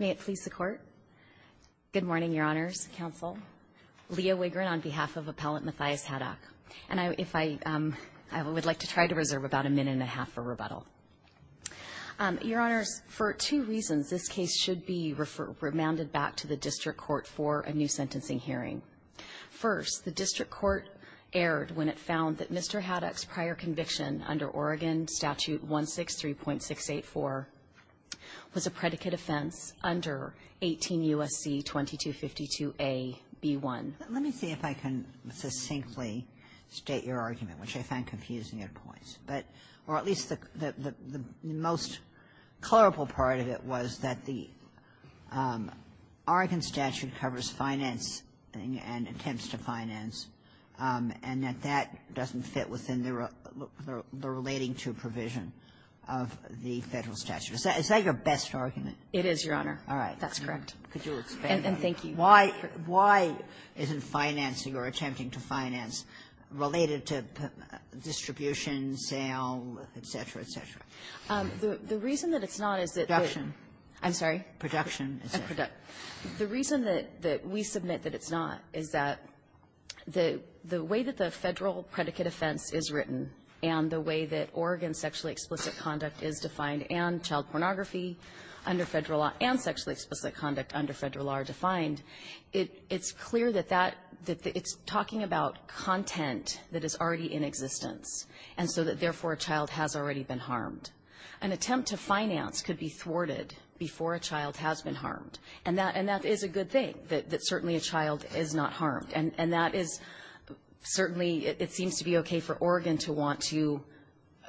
May it please the Court. Good morning, Your Honors. Counsel. Leah Wigrin on behalf of Appellant Matthias Haddock. And I would like to try to reserve about a minute and a half for rebuttal. Your Honors, for two reasons, this case should be remanded back to the district court for a new sentencing hearing. First, the district court erred when it found that Mr. Haddock's prior conviction under Oregon Statute 163.684 was a predicate offense under 18 U.S.C. 2252a)(b)(1). Let me see if I can succinctly state your argument, which I found confusing at points. But at least the most colorful part of it was that the Oregon statute covers financing and attempts to finance, and that that doesn't fit within the relating to provision. Is that your best argument? It is, Your Honor. All right. That's correct. Could you expand on that? And thank you. Why isn't financing or attempting to finance related to distribution, sale, et cetera, et cetera? The reason that it's not is that the ---- Production. I'm sorry? Production, et cetera. The reason that we submit that it's not is that the way that the Federal predicate offense is written and the way that Oregon sexually explicit conduct is defined and child pornography under Federal law and sexually explicit conduct under Federal law are defined, it's clear that that the ---- it's talking about content that is already in existence, and so that, therefore, a child has already been harmed. An attempt to finance could be thwarted before a child has been harmed. And that is a good thing, that certainly a child is not harmed. And that is certainly ---- it seems to be okay for Oregon to want to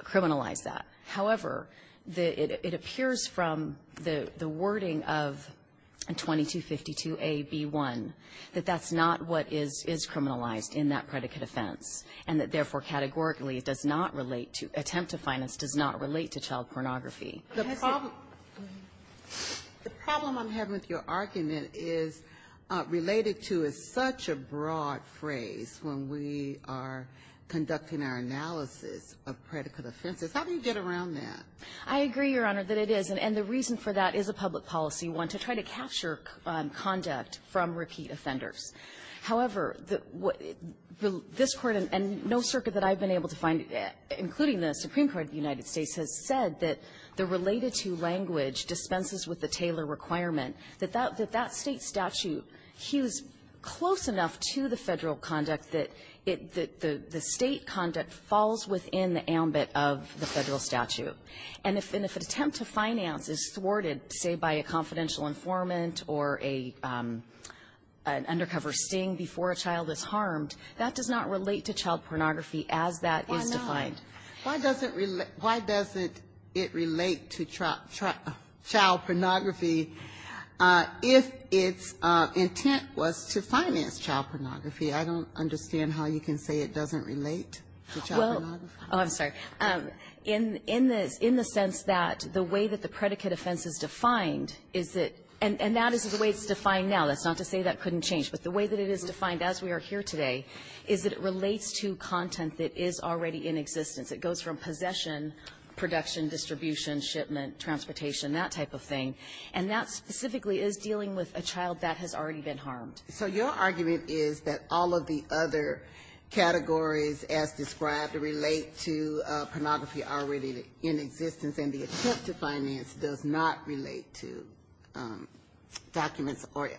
criminalize that. However, it appears from the wording of 2252a)(b)(1), that that's not what is criminalized in that predicate offense, and that, therefore, categorically it does not relate to ---- attempt to finance does not relate to child pornography. The problem ---- The problem I'm having with your argument is related to is such a broad phrase when we are conducting our analysis of predicate offenses. How do you get around that? I agree, Your Honor, that it is. And the reason for that is a public policy one, to try to capture conduct from repeat offenders. However, the ---- this Court and no circuit that I've been able to find, including the Supreme Court of the United States, has said that the related-to language dispenses with the Taylor requirement, that that state statute hews close enough to the Federal conduct that it ---- that the state conduct falls within the ambit of the Federal statute. And if an attempt to finance is thwarted, say, by a confidential informant or a ---- an undercover sting before a child is harmed, that is not defined. Why does it relate to child pornography if its intent was to finance child pornography? I don't understand how you can say it doesn't relate to child pornography. Well ---- oh, I'm sorry. In the sense that the way that the predicate offense is defined is that ---- and that is the way it's defined now. That's not to say that couldn't change. But the way that it is defined as we are here today is that it relates to content that is already in existence. It goes from possession, production, distribution, shipment, transportation, that type of thing. And that specifically is dealing with a child that has already been harmed. So your argument is that all of the other categories as described relate to pornography already in existence, and the attempt to finance does not relate to documents or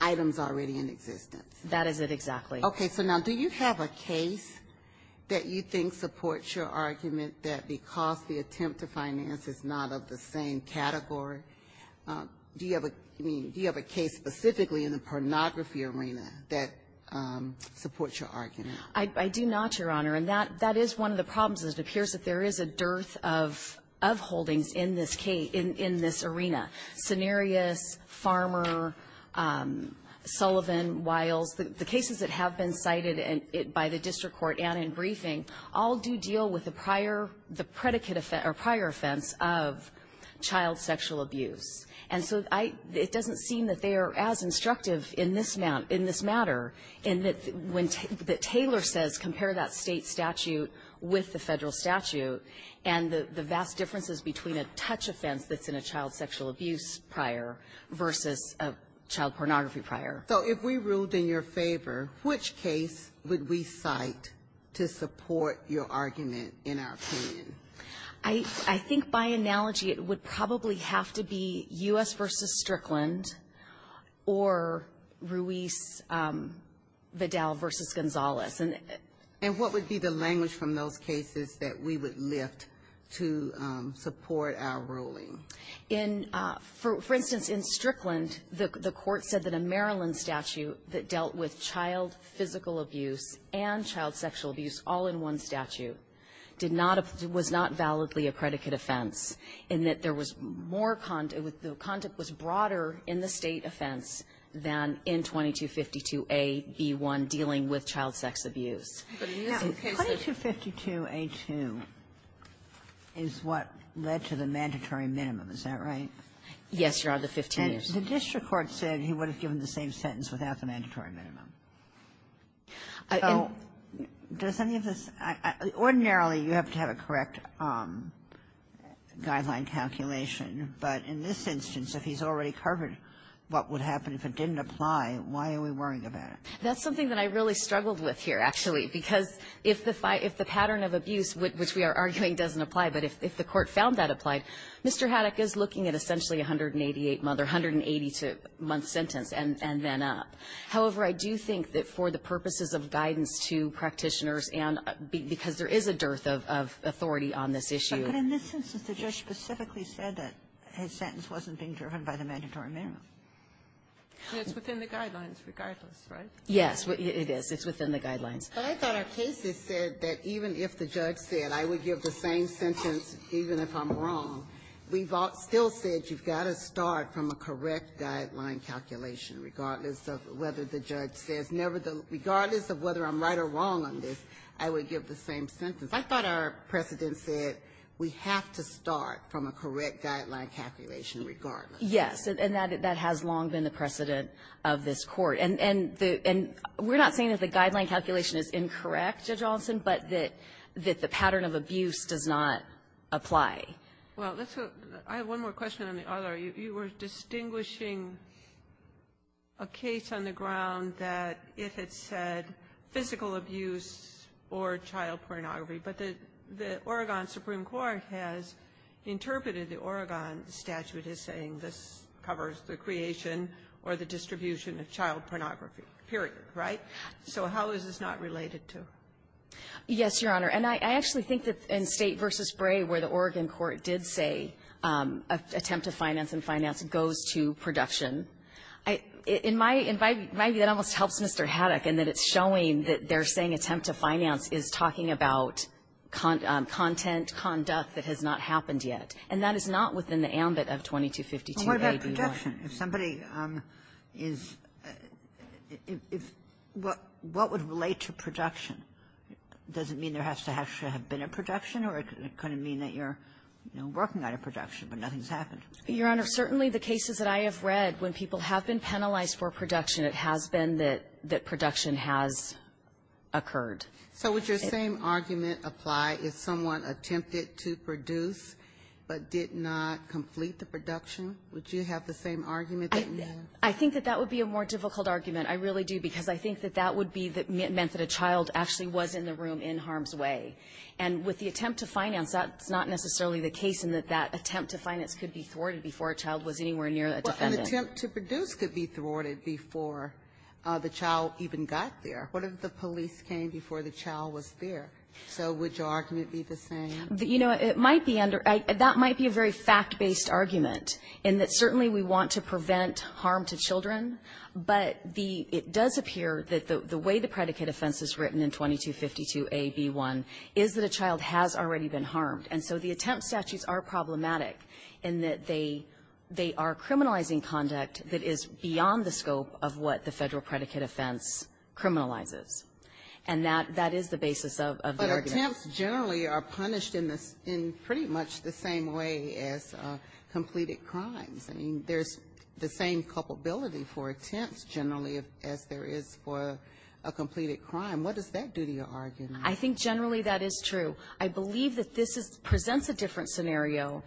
items already in existence. That is it, exactly. Okay. So now, do you have a case that you think supports your argument that because the attempt to finance is not of the same category, do you have a case specifically in the pornography arena that supports your argument? I do not, Your Honor. And that is one of the problems. It appears that there is a dearth of holdings in this arena. Cenarius, Farmer, Sullivan, Wiles, the cases that have been cited by the district court and in briefing all do deal with the prior offense of child sexual abuse. And so, it doesn't seem that they are as instructive in this matter, in that when Taylor says, compare that state statute with the federal statute, and the vast differences between a touch offense that's in a child sexual abuse prior versus a child pornography prior. So if we ruled in your favor, which case would we cite to support your argument in our opinion? I think by analogy, it would probably have to be U.S. versus Strickland or Ruiz-Vidal versus Gonzalez. And what would be the language from those cases that we would lift to support our ruling? In, for instance, in Strickland, the court said that a Maryland statute that dealt with child physical abuse and child sexual abuse all in one statute did not, was not validly a predicate offense. And that there was more, the content was broader in the state offense than in 2252 AB1 dealing with child sex abuse. But in this case, the ---- Kagan. 2252A2 is what led to the mandatory minimum. Is that right? Yes, Your Honor. The 15 years. And the district court said he would have given the same sentence without the mandatory minimum. So does any of this ---- ordinarily, you have to have a correct guideline calculation. But in this instance, if he's already covered what would happen if it didn't apply, why are we worrying about it? That's something that I really struggled with here, actually. Because if the pattern of abuse, which we are arguing doesn't apply, but if the court found that applied, Mr. Haddock is looking at essentially a 188-month or 180-month sentence and then up. However, I do think that for the purposes of guidance to practitioners and because there is a dearth of authority on this issue. But in this instance, the judge specifically said that his sentence wasn't being driven by the mandatory minimum. It's within the guidelines regardless, right? Yes, it is. It's within the guidelines. But I thought our case said that even if the judge said I would give the same sentence even if I'm wrong, we've still said you've got to start from a correct guideline calculation regardless of whether the judge says never the ---- regardless of whether I'm right or wrong on this, I would give the same sentence. I thought our precedent said we have to start from a correct guideline calculation regardless. Yes. And that has long been the precedent of this Court. And we're not saying that the guideline calculation is incorrect, Judge Altsin, but that the pattern of abuse does not apply. Well, let's go to the other. I have one more question on the other. You were distinguishing a case on the ground that it had said physical abuse or child abuse covers the creation or the distribution of child pornography, period. Right? So how is this not related to? Yes, Your Honor. And I actually think that in State v. Bray, where the Oregon court did say attempt to finance and finance goes to production, I ---- in my ---- it almost helps Mr. Haddock in that it's showing that they're saying attempt to finance is talking about content conduct that has not happened yet. And that is not within the ambit of 2252. What about production? If somebody is ---- if ---- what would relate to production? Does it mean there has to actually have been a production, or does it kind of mean that you're, you know, working on a production, but nothing's happened? Your Honor, certainly the cases that I have read, when people have been penalized for production, it has been that production has occurred. So would your same argument apply if someone attempted to produce but did not complete the production? Would you have the same argument that you have? I think that that would be a more difficult argument. I really do, because I think that that would be that meant that a child actually was in the room in harm's way. And with the attempt to finance, that's not necessarily the case in that that attempt to finance could be thwarted before a child was anywhere near a defendant. Well, an attempt to produce could be thwarted before the child even got there. What if the police came before the child was there? So would your argument be the same? You know, it might be under that might be a very fact-based argument, in that certainly we want to prevent harm to children, but the it does appear that the way the predicate offense is written in 2252a)(b)(1), is that a child has already been harmed. And so the attempt statutes are problematic in that they are criminalizing conduct that is beyond the scope of what the Federal predicate offense criminalizes. And that is the basis of the argument. Attempts generally are punished in pretty much the same way as completed crimes. I mean, there's the same culpability for attempts generally as there is for a completed crime. What does that do to your argument? I think generally that is true. I believe that this presents a different scenario,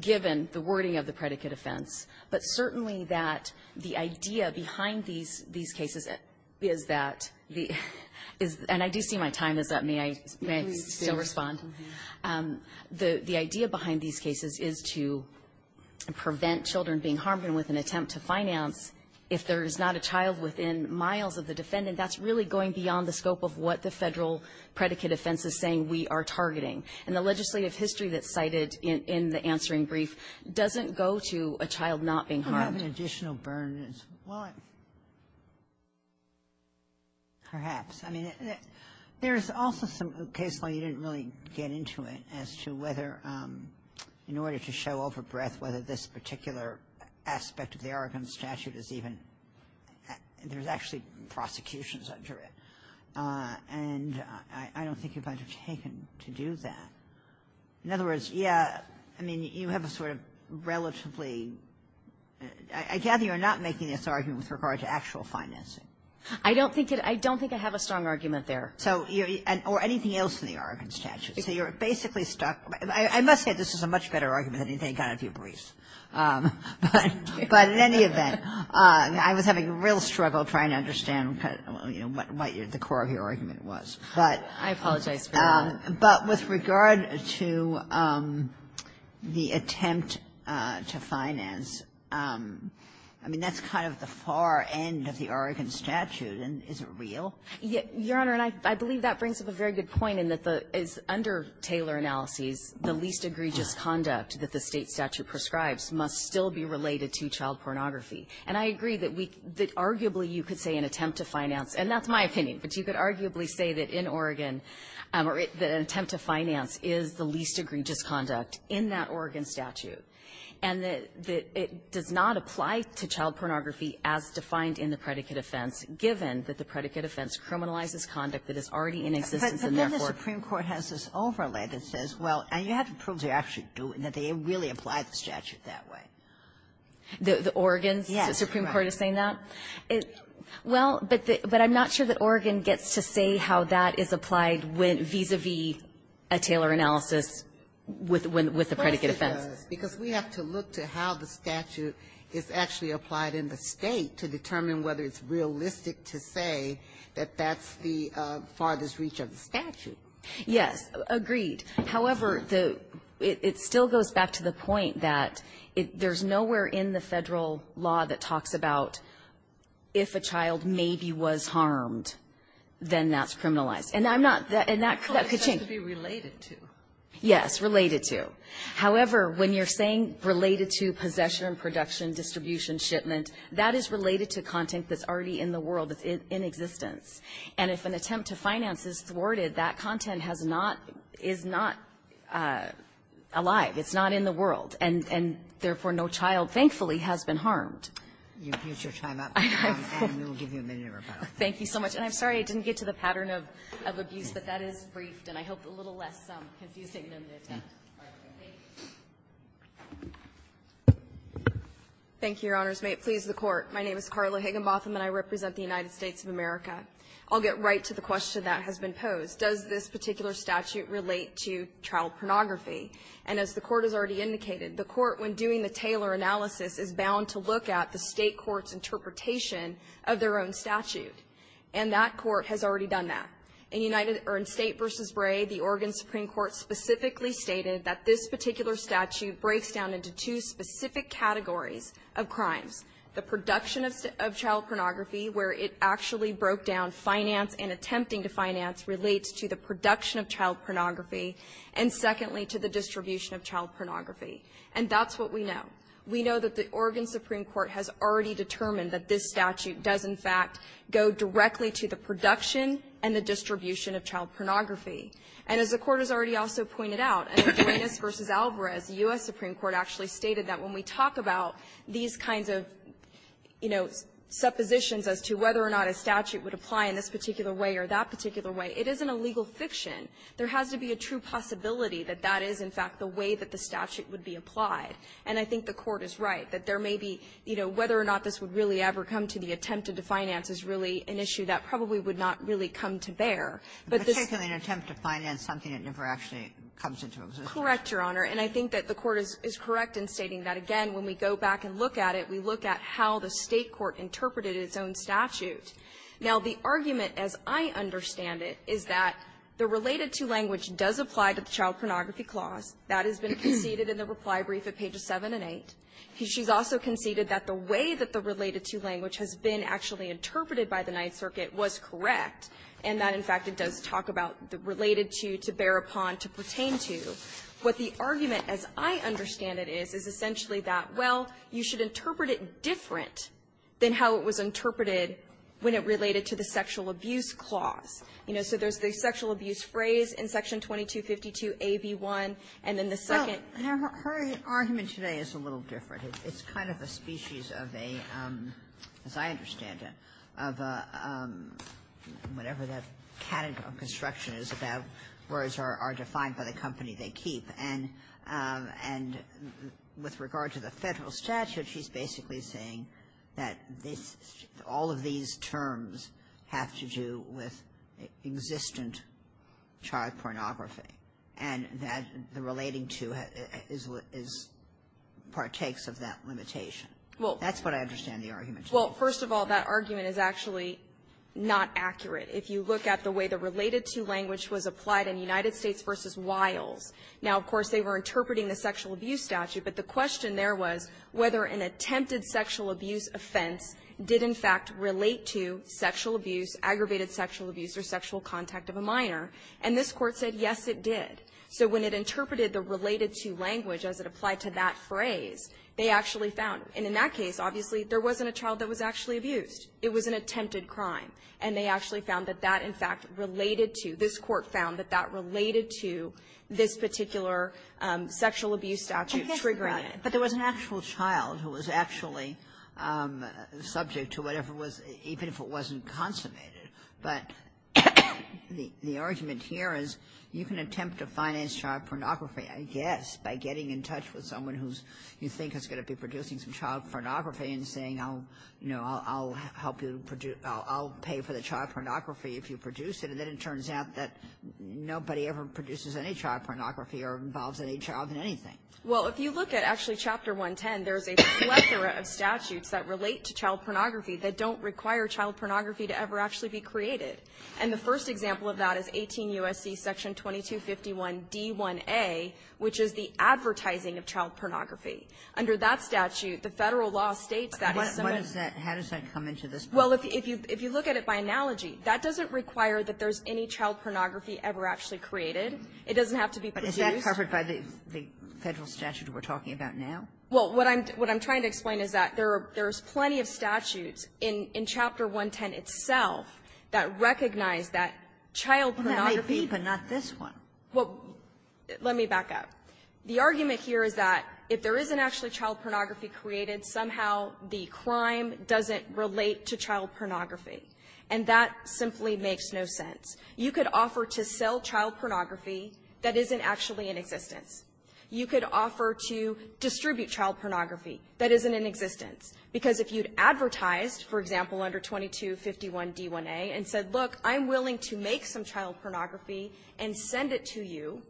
given the wording of the predicate offense. But certainly that the idea behind these cases is that, and I do see my time is up. May I still respond? The idea behind these cases is to prevent children being harmed. And with an attempt to finance, if there is not a child within miles of the defendant, that's really going beyond the scope of what the Federal predicate offense is saying we are targeting. And the legislative history that's cited in the answering brief doesn't go to a child not being harmed. Kagan, do you have an additional burn as well? Perhaps. I mean, there's also some cases where you didn't really get into it as to whether in order to show overbreadth whether this particular aspect of the Oregon statute is even, there's actually prosecutions under it. And I don't think you're going to be taken to do that. In other words, yeah, I mean, you have a sort of relatively, I gather you're not making this argument with regard to actual financing. I don't think it, I don't think I have a strong argument there. So, or anything else in the Oregon statute. So you're basically stuck, I must say this is a much better argument than anything I've got in a few briefs. But in any event, I was having a real struggle trying to understand what the core of your argument was. I apologize for that. But with regard to the attempt to finance, I mean, that's kind of the far end of the Oregon statute. And is it real? Your Honor, and I believe that brings up a very good point in that the, under Taylor analyses, the least egregious conduct that the State statute prescribes must still be related to child pornography. And I agree that we, that arguably you could say an attempt to finance, and that's not my opinion, but you could arguably say that in Oregon, that an attempt to finance is the least egregious conduct in that Oregon statute, and that it does not apply to child pornography as defined in the predicate offense, given that the predicate offense criminalizes conduct that is already in existence in their court. But then the Supreme Court has this overlay that says, well, and you have to prove they actually do, and that they really apply the statute that way. The Oregon's? Yes. The Supreme Court is saying that? Well, but I'm not sure that Oregon gets to say how that is applied vis-a-vis a Taylor analysis with the predicate offense. Because we have to look to how the statute is actually applied in the State to determine whether it's realistic to say that that's the farthest reach of the statute. Yes. Agreed. However, it still goes back to the point that there's nowhere in the Federal law that if a child maybe was harmed, then that's criminalized. And I'm not that — and that — That's supposed to be related to. Yes. Related to. However, when you're saying related to possession, production, distribution, shipment, that is related to content that's already in the world, in existence. And if an attempt to finance is thwarted, that content has not — is not alive. It's not in the world. And therefore, no child, thankfully, has been harmed. You've used your time up. I know. And we'll give you a minute to rebuttal. Thank you so much. And I'm sorry I didn't get to the pattern of abuse, but that is briefed. And I hope it's a little less confusing than the attempt. All right. Thank you. Thank you, Your Honors. May it please the Court. My name is Carla Higginbotham, and I represent the United States of America. I'll get right to the question that has been posed. Does this particular statute relate to child pornography? And as the Court has already indicated, the Court, when doing the Taylor analysis, is bound to look at the state court's interpretation of their own statute. And that court has already done that. In United — or in State v. Bray, the Oregon Supreme Court specifically stated that this particular statute breaks down into two specific categories of crimes. The production of child pornography, where it actually broke down finance and attempting to finance, relates to the production of child pornography and, secondly, to the distribution of child pornography. And that's what we know. We know that the Oregon Supreme Court has already determined that this statute does, in fact, go directly to the production and the distribution of child pornography. And as the Court has already also pointed out, in Duenas v. Alvarez, the U.S. Supreme Court actually stated that when we talk about these kinds of, you know, suppositions as to whether or not a statute would apply in this particular way or that particular way, it isn't a legal fiction. There has to be a true possibility that that is, in fact, the way that the statute would be applied. And I think the Court is right that there may be, you know, whether or not this would really ever come to the attempted-to-finance is really an issue that probably would not really come to bear. But this — Kagan, in an attempt to finance something, it never actually comes into existence. Correct, Your Honor. And I think that the Court is correct in stating that, again, when we go back and look at it, we look at how the State court interpreted its own statute. Now, the argument, as I understand it, is that the related-to language does apply to the Child Pornography Clause. That has been conceded in the reply brief at pages 7 and 8. She's also conceded that the way that the related-to language has been actually interpreted by the Ninth Circuit was correct, and that, in fact, it does talk about the related-to, to bear upon, to pertain to. What the argument, as I understand it, is, is essentially that, well, you should interpret it different than how it was interpreted when it related to the sexual abuse clause. You know, so there's the sexual abuse phrase in Section 2252a)(b)(1), and then the second — Kagan, her argument today is a little different. It's kind of a species of a, as I understand it, of a — whatever that category of construction is about, words are defined by the company they keep. And with regard to the Federal statute, she's basically saying that this — all of these terms have to do with existent child pornography, and that the relating-to is — partakes of that limitation. Well, that's what I understand the argument to be. Well, first of all, that argument is actually not accurate. If you look at the way the related-to language was applied in United States v. Wiles, now, of course, they were interpreting the sexual abuse statute, but the question there was whether an attempted sexual abuse offense did, in fact, relate to sexual abuse, aggravated sexual abuse, or sexual contact of a minor. And this Court said, yes, it did. So when it interpreted the related-to language as it applied to that phrase, they actually found — and in that case, obviously, there wasn't a child that was actually abused. It was an attempted crime. And they actually found that that, in fact, related to — this Court found that that related to this particular sexual abuse statute triggering it. But there was an actual child who was actually subject to whatever was — even if it wasn't consummated. But the argument here is you can attempt to finance child pornography, I guess, by getting in touch with someone who's — you think is going to be producing some child pornography and saying, oh, you know, I'll help you — I'll pay for the child pornography if you produce it. And then it turns out that nobody ever produces any child pornography or involves any child in anything. Well, if you look at, actually, Chapter 110, there's a plethora of statutes that relate to child pornography that don't require child pornography to ever actually be created. And the first example of that is 18 U.S.C. Section 2251d1a, which is the advertising of child pornography. Under that statute, the Federal law states that if someone — But what is that — how does that come into this? Well, if you — if you look at it by analogy, that doesn't require that there's any child pornography ever actually created. It doesn't have to be produced. Is that covered by the Federal statute we're talking about now? Well, what I'm — what I'm trying to explain is that there are — there's plenty of statutes in — in Chapter 110 itself that recognize that child pornography — Well, that might be, but not this one. Well, let me back up. The argument here is that if there isn't actually child pornography created, somehow the crime doesn't relate to child pornography. And that simply makes no sense. You could offer to sell child pornography that isn't actually in existence. You could offer to distribute child pornography that isn't in existence. Because if you'd advertised, for example, under 2251d1a, and said, look, I'm willing to make some child pornography and send it to you,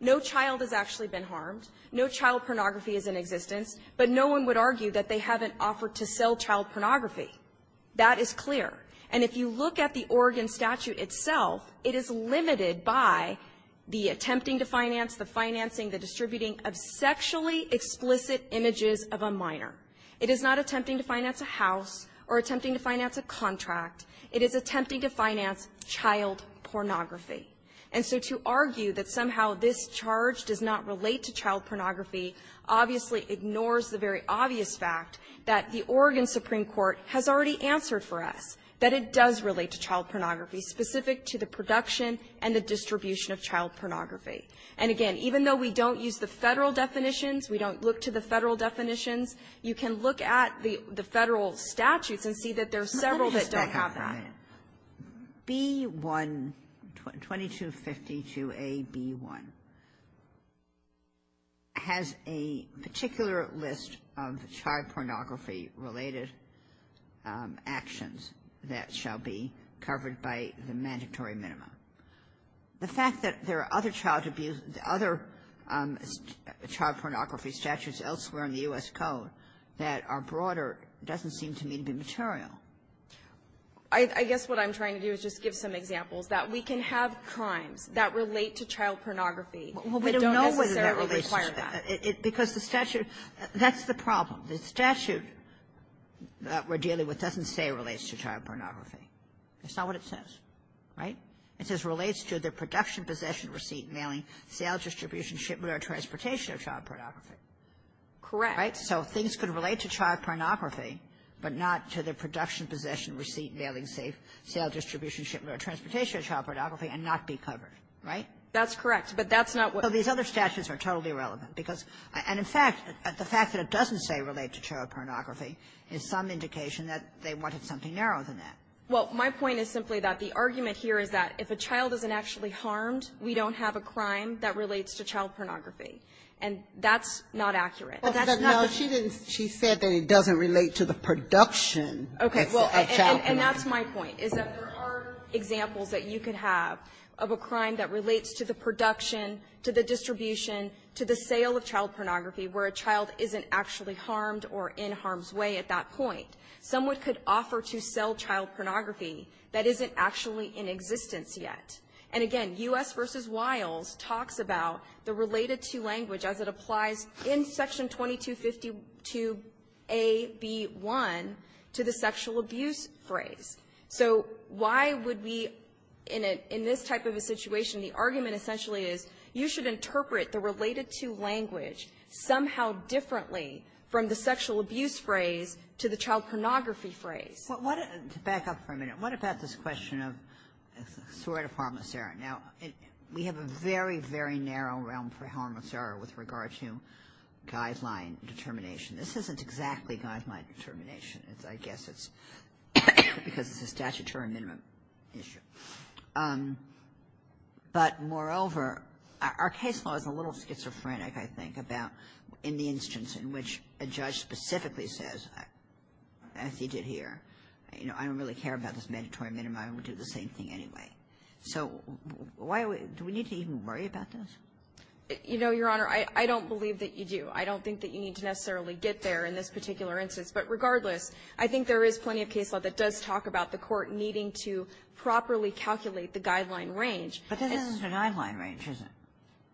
no child has actually been harmed, no child pornography is in existence, but no one would argue that they haven't offered to sell child pornography. That is clear. And if you look at the Oregon statute itself, it is limited by the attempting to finance, the financing, the distributing of sexually explicit images of a minor. It is not attempting to finance a house or attempting to finance a contract. It is attempting to finance child pornography. And so to argue that somehow this charge does not relate to child pornography obviously ignores the very obvious fact that the Oregon Supreme Court has already answered for us, that it does relate to child pornography, specific to the production and the distribution of child pornography. And again, even though we don't use the Federal definitions, we don't look to the Federal definitions, you can look at the Federal statutes and see that there are several that don't have that. Sotomayor, B-1, 2252a-B-1, has a particular list of child pornography-related actions that shall be covered by the mandatory minimum. The fact that there are other child abuse, other child pornography statutes elsewhere in the U.S. Code that are broader doesn't seem to me to be material. I guess what I'm trying to do is just give some examples that we can have crimes that relate to child pornography that don't necessarily require that. Well, we don't know whether that relates to child pornography. Because the statute, that's the problem. The statute that we're dealing with doesn't say it relates to child pornography. That's not what it says. Right? It says it relates to the production, possession, receipt, mailing, sale, distribution, shipment, or transportation of child pornography. Correct. Right? So things could relate to child pornography, but not to the production, possession, receipt, mailing, sale, distribution, shipment, or transportation of child pornography and not be covered. Right? That's correct. But that's not what we're talking about. So these other statutes are totally irrelevant. Because, and in fact, the fact that it doesn't say relate to child pornography is some indication that they wanted something narrower than that. Well, my point is simply that the argument here is that if a child isn't actually harmed, we don't have a crime that relates to child pornography. And that's not accurate. But that's not the point. No, she didn't. She said that it doesn't relate to the production of child pornography. Okay. And that's my point, is that there are examples that you could have of a crime that is the sale of child pornography where a child isn't actually harmed or in harm's way at that point. Someone could offer to sell child pornography that isn't actually in existence yet. And again, U.S. v. Wiles talks about the related-to language as it applies in Section 2252a)(b)(1 to the sexual abuse phrase. So why would we, in this type of a situation, the argument essentially is you should interpret the related-to language somehow differently from the sexual abuse phrase to the child pornography phrase? To back up for a minute, what about this question of sort of harmless error? Now, we have a very, very narrow realm for harmless error with regard to guideline determination. This isn't exactly guideline determination. I guess it's because it's a statutory minimum issue. But moreover, our case law is a little schizophrenic, I think, about in the instance in which a judge specifically says, as he did here, you know, I don't really care about this mandatory minimum. I would do the same thing anyway. So why do we need to even worry about this? You know, Your Honor, I don't believe that you do. I don't think that you need to necessarily get there in this particular instance. But regardless, I think there is plenty of case law that does talk about the Court needing to properly calculate the guideline range. But this isn't a guideline range, is it?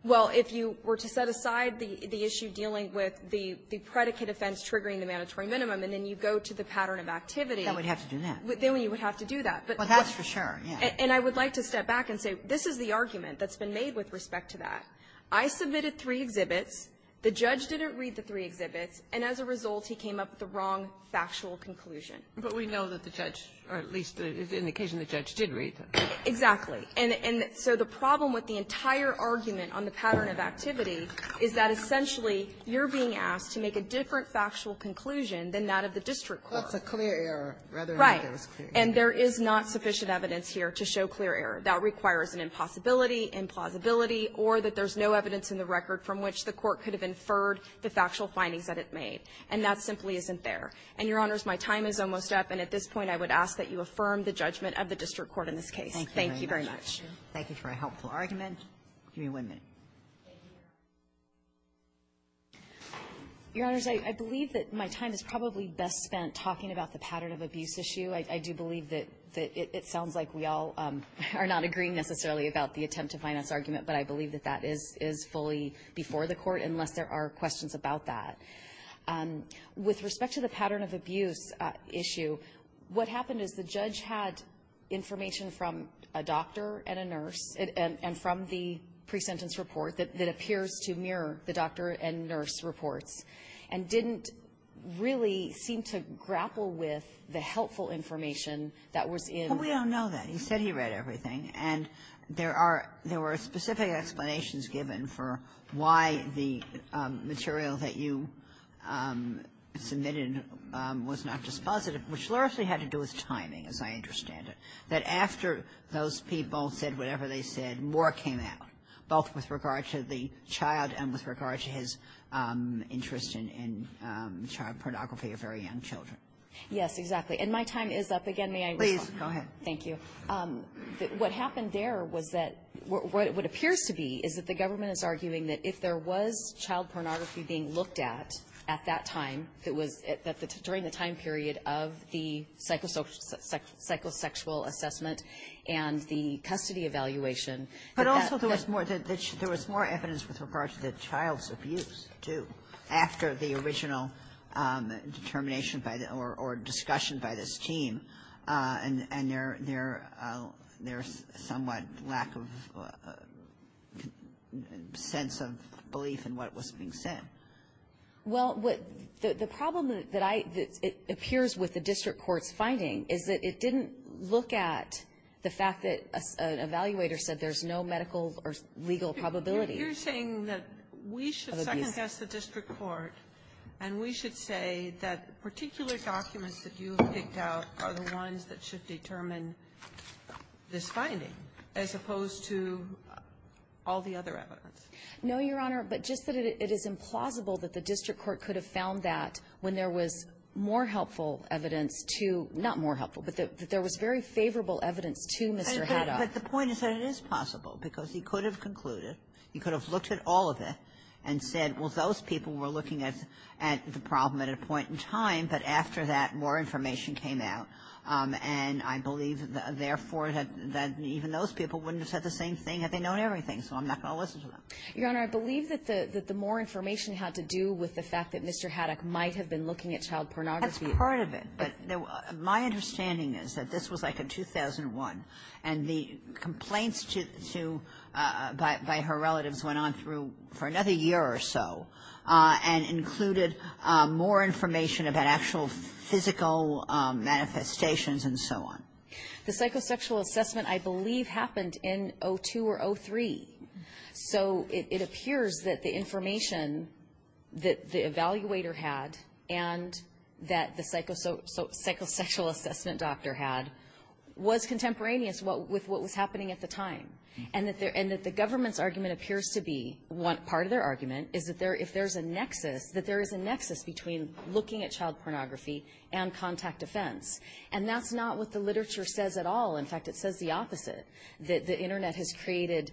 Well, if you were to set aside the issue dealing with the predicate offense triggering the mandatory minimum, and then you go to the pattern of activity — Then we'd have to do that. Then we would have to do that. But — Well, that's for sure, yes. And I would like to step back and say, this is the argument that's been made with respect to that. I submitted three exhibits. The judge didn't read the three exhibits. And as a result, he came up with the wrong factual conclusion. But we know that the judge, or at least in the case of the judge, did read them. Exactly. And so the problem with the entire argument on the pattern of activity is that essentially you're being asked to make a different factual conclusion than that of the district court. That's a clear error rather than a clear error. Right. And there is not sufficient evidence here to show clear error. That requires an impossibility, implausibility, or that there's no evidence in the record from which the court could have inferred the factual findings that it made. And that simply isn't there. And, Your Honors, my time is almost up. And at this point, I would ask that you affirm the judgment of the district court in this case. Thank you very much. Thank you for a helpful argument. Give me one minute. Thank you. Your Honors, I believe that my time is probably best spent talking about the pattern of abuse issue. I do believe that it sounds like we all are not agreeing necessarily about the attempt to finance argument. But I believe that that is fully before the Court, unless there are questions about that. With respect to the pattern of abuse issue, what happened is the judge had information from a doctor and a nurse, and from the pre-sentence report that appears to mirror the doctor and nurse reports, and didn't really seem to grapple with the helpful information that was in the pre-sentence report. But we don't know that. He said he read everything. And there are — there were specific explanations given for why the material that you submitted was not just positive, which largely had to do with timing, as I understand it. That after those people said whatever they said, more came out, both with regard to the child and with regard to his interest in child pornography of very young children. Yes, exactly. And my time is up. Again, may I respond? Please. Go ahead. Thank you. What happened there was that — what appears to be is that the government is arguing that if there was child pornography being looked at, at that time, that was — that during the time period of the psychosexual assessment and the custody evaluation — But also there was more — there was more evidence with regard to the child's abuse, too, after the original determination by the — or discussion by this team. And there's somewhat lack of sense of belief in what was being said. Well, what — the problem that I — that appears with the district court's finding is that it didn't look at the fact that an evaluator said there's no medical or legal probability of abuse. You're saying that we should second-guess the district court, and we should say that particular documents that you have picked out are the ones that should determine this finding, as opposed to all the other evidence? No, Your Honor. But just that it is implausible that the district court could have found that when there was more helpful evidence to — not more helpful, but that there was very favorable evidence to Mr. Haddock. But the point is that it is possible, because he could have concluded, he could have looked at all of it and said, well, those people were looking at the problem at a point in time. But after that, more information came out. And I believe, therefore, that even those people wouldn't have said the same thing had they known everything. So I'm not going to listen to them. Your Honor, I believe that the more information had to do with the fact that Mr. Haddock might have been looking at child pornography. That's part of it. But my understanding is that this was, like, in 2001. And the complaints to — by her relatives went on through — for another year or so, and included more information about actual physical manifestations and so on. The psychosexual assessment, I believe, happened in 2002 or 2003. So it appears that the information that the evaluator had and that the psychosexual assessment doctor had was contemporaneous with what was happening at the time. And that the government's argument appears to be — part of their argument is that there — if there's a nexus, that there is a nexus between looking at child pornography and contact offense. And that's not what the literature says at all. In fact, it says the opposite, that the Internet has created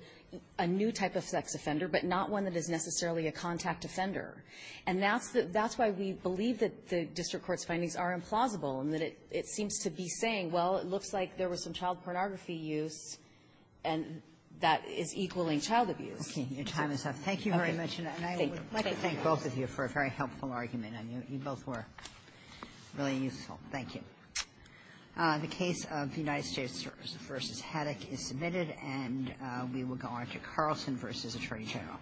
a new type of sex offender, but not one that is necessarily a contact offender. And that's why we believe that the district court's findings are implausible, and that it seems to be saying, well, it looks like there was some child pornography use, and that is equaling child abuse. Okay. Your time is up. Thank you very much. And I want to thank both of you for a very helpful argument. And you both were really useful. Thank you. The case of United States v. Haddock is submitted. And we will go on to Carlson v. Attorney General.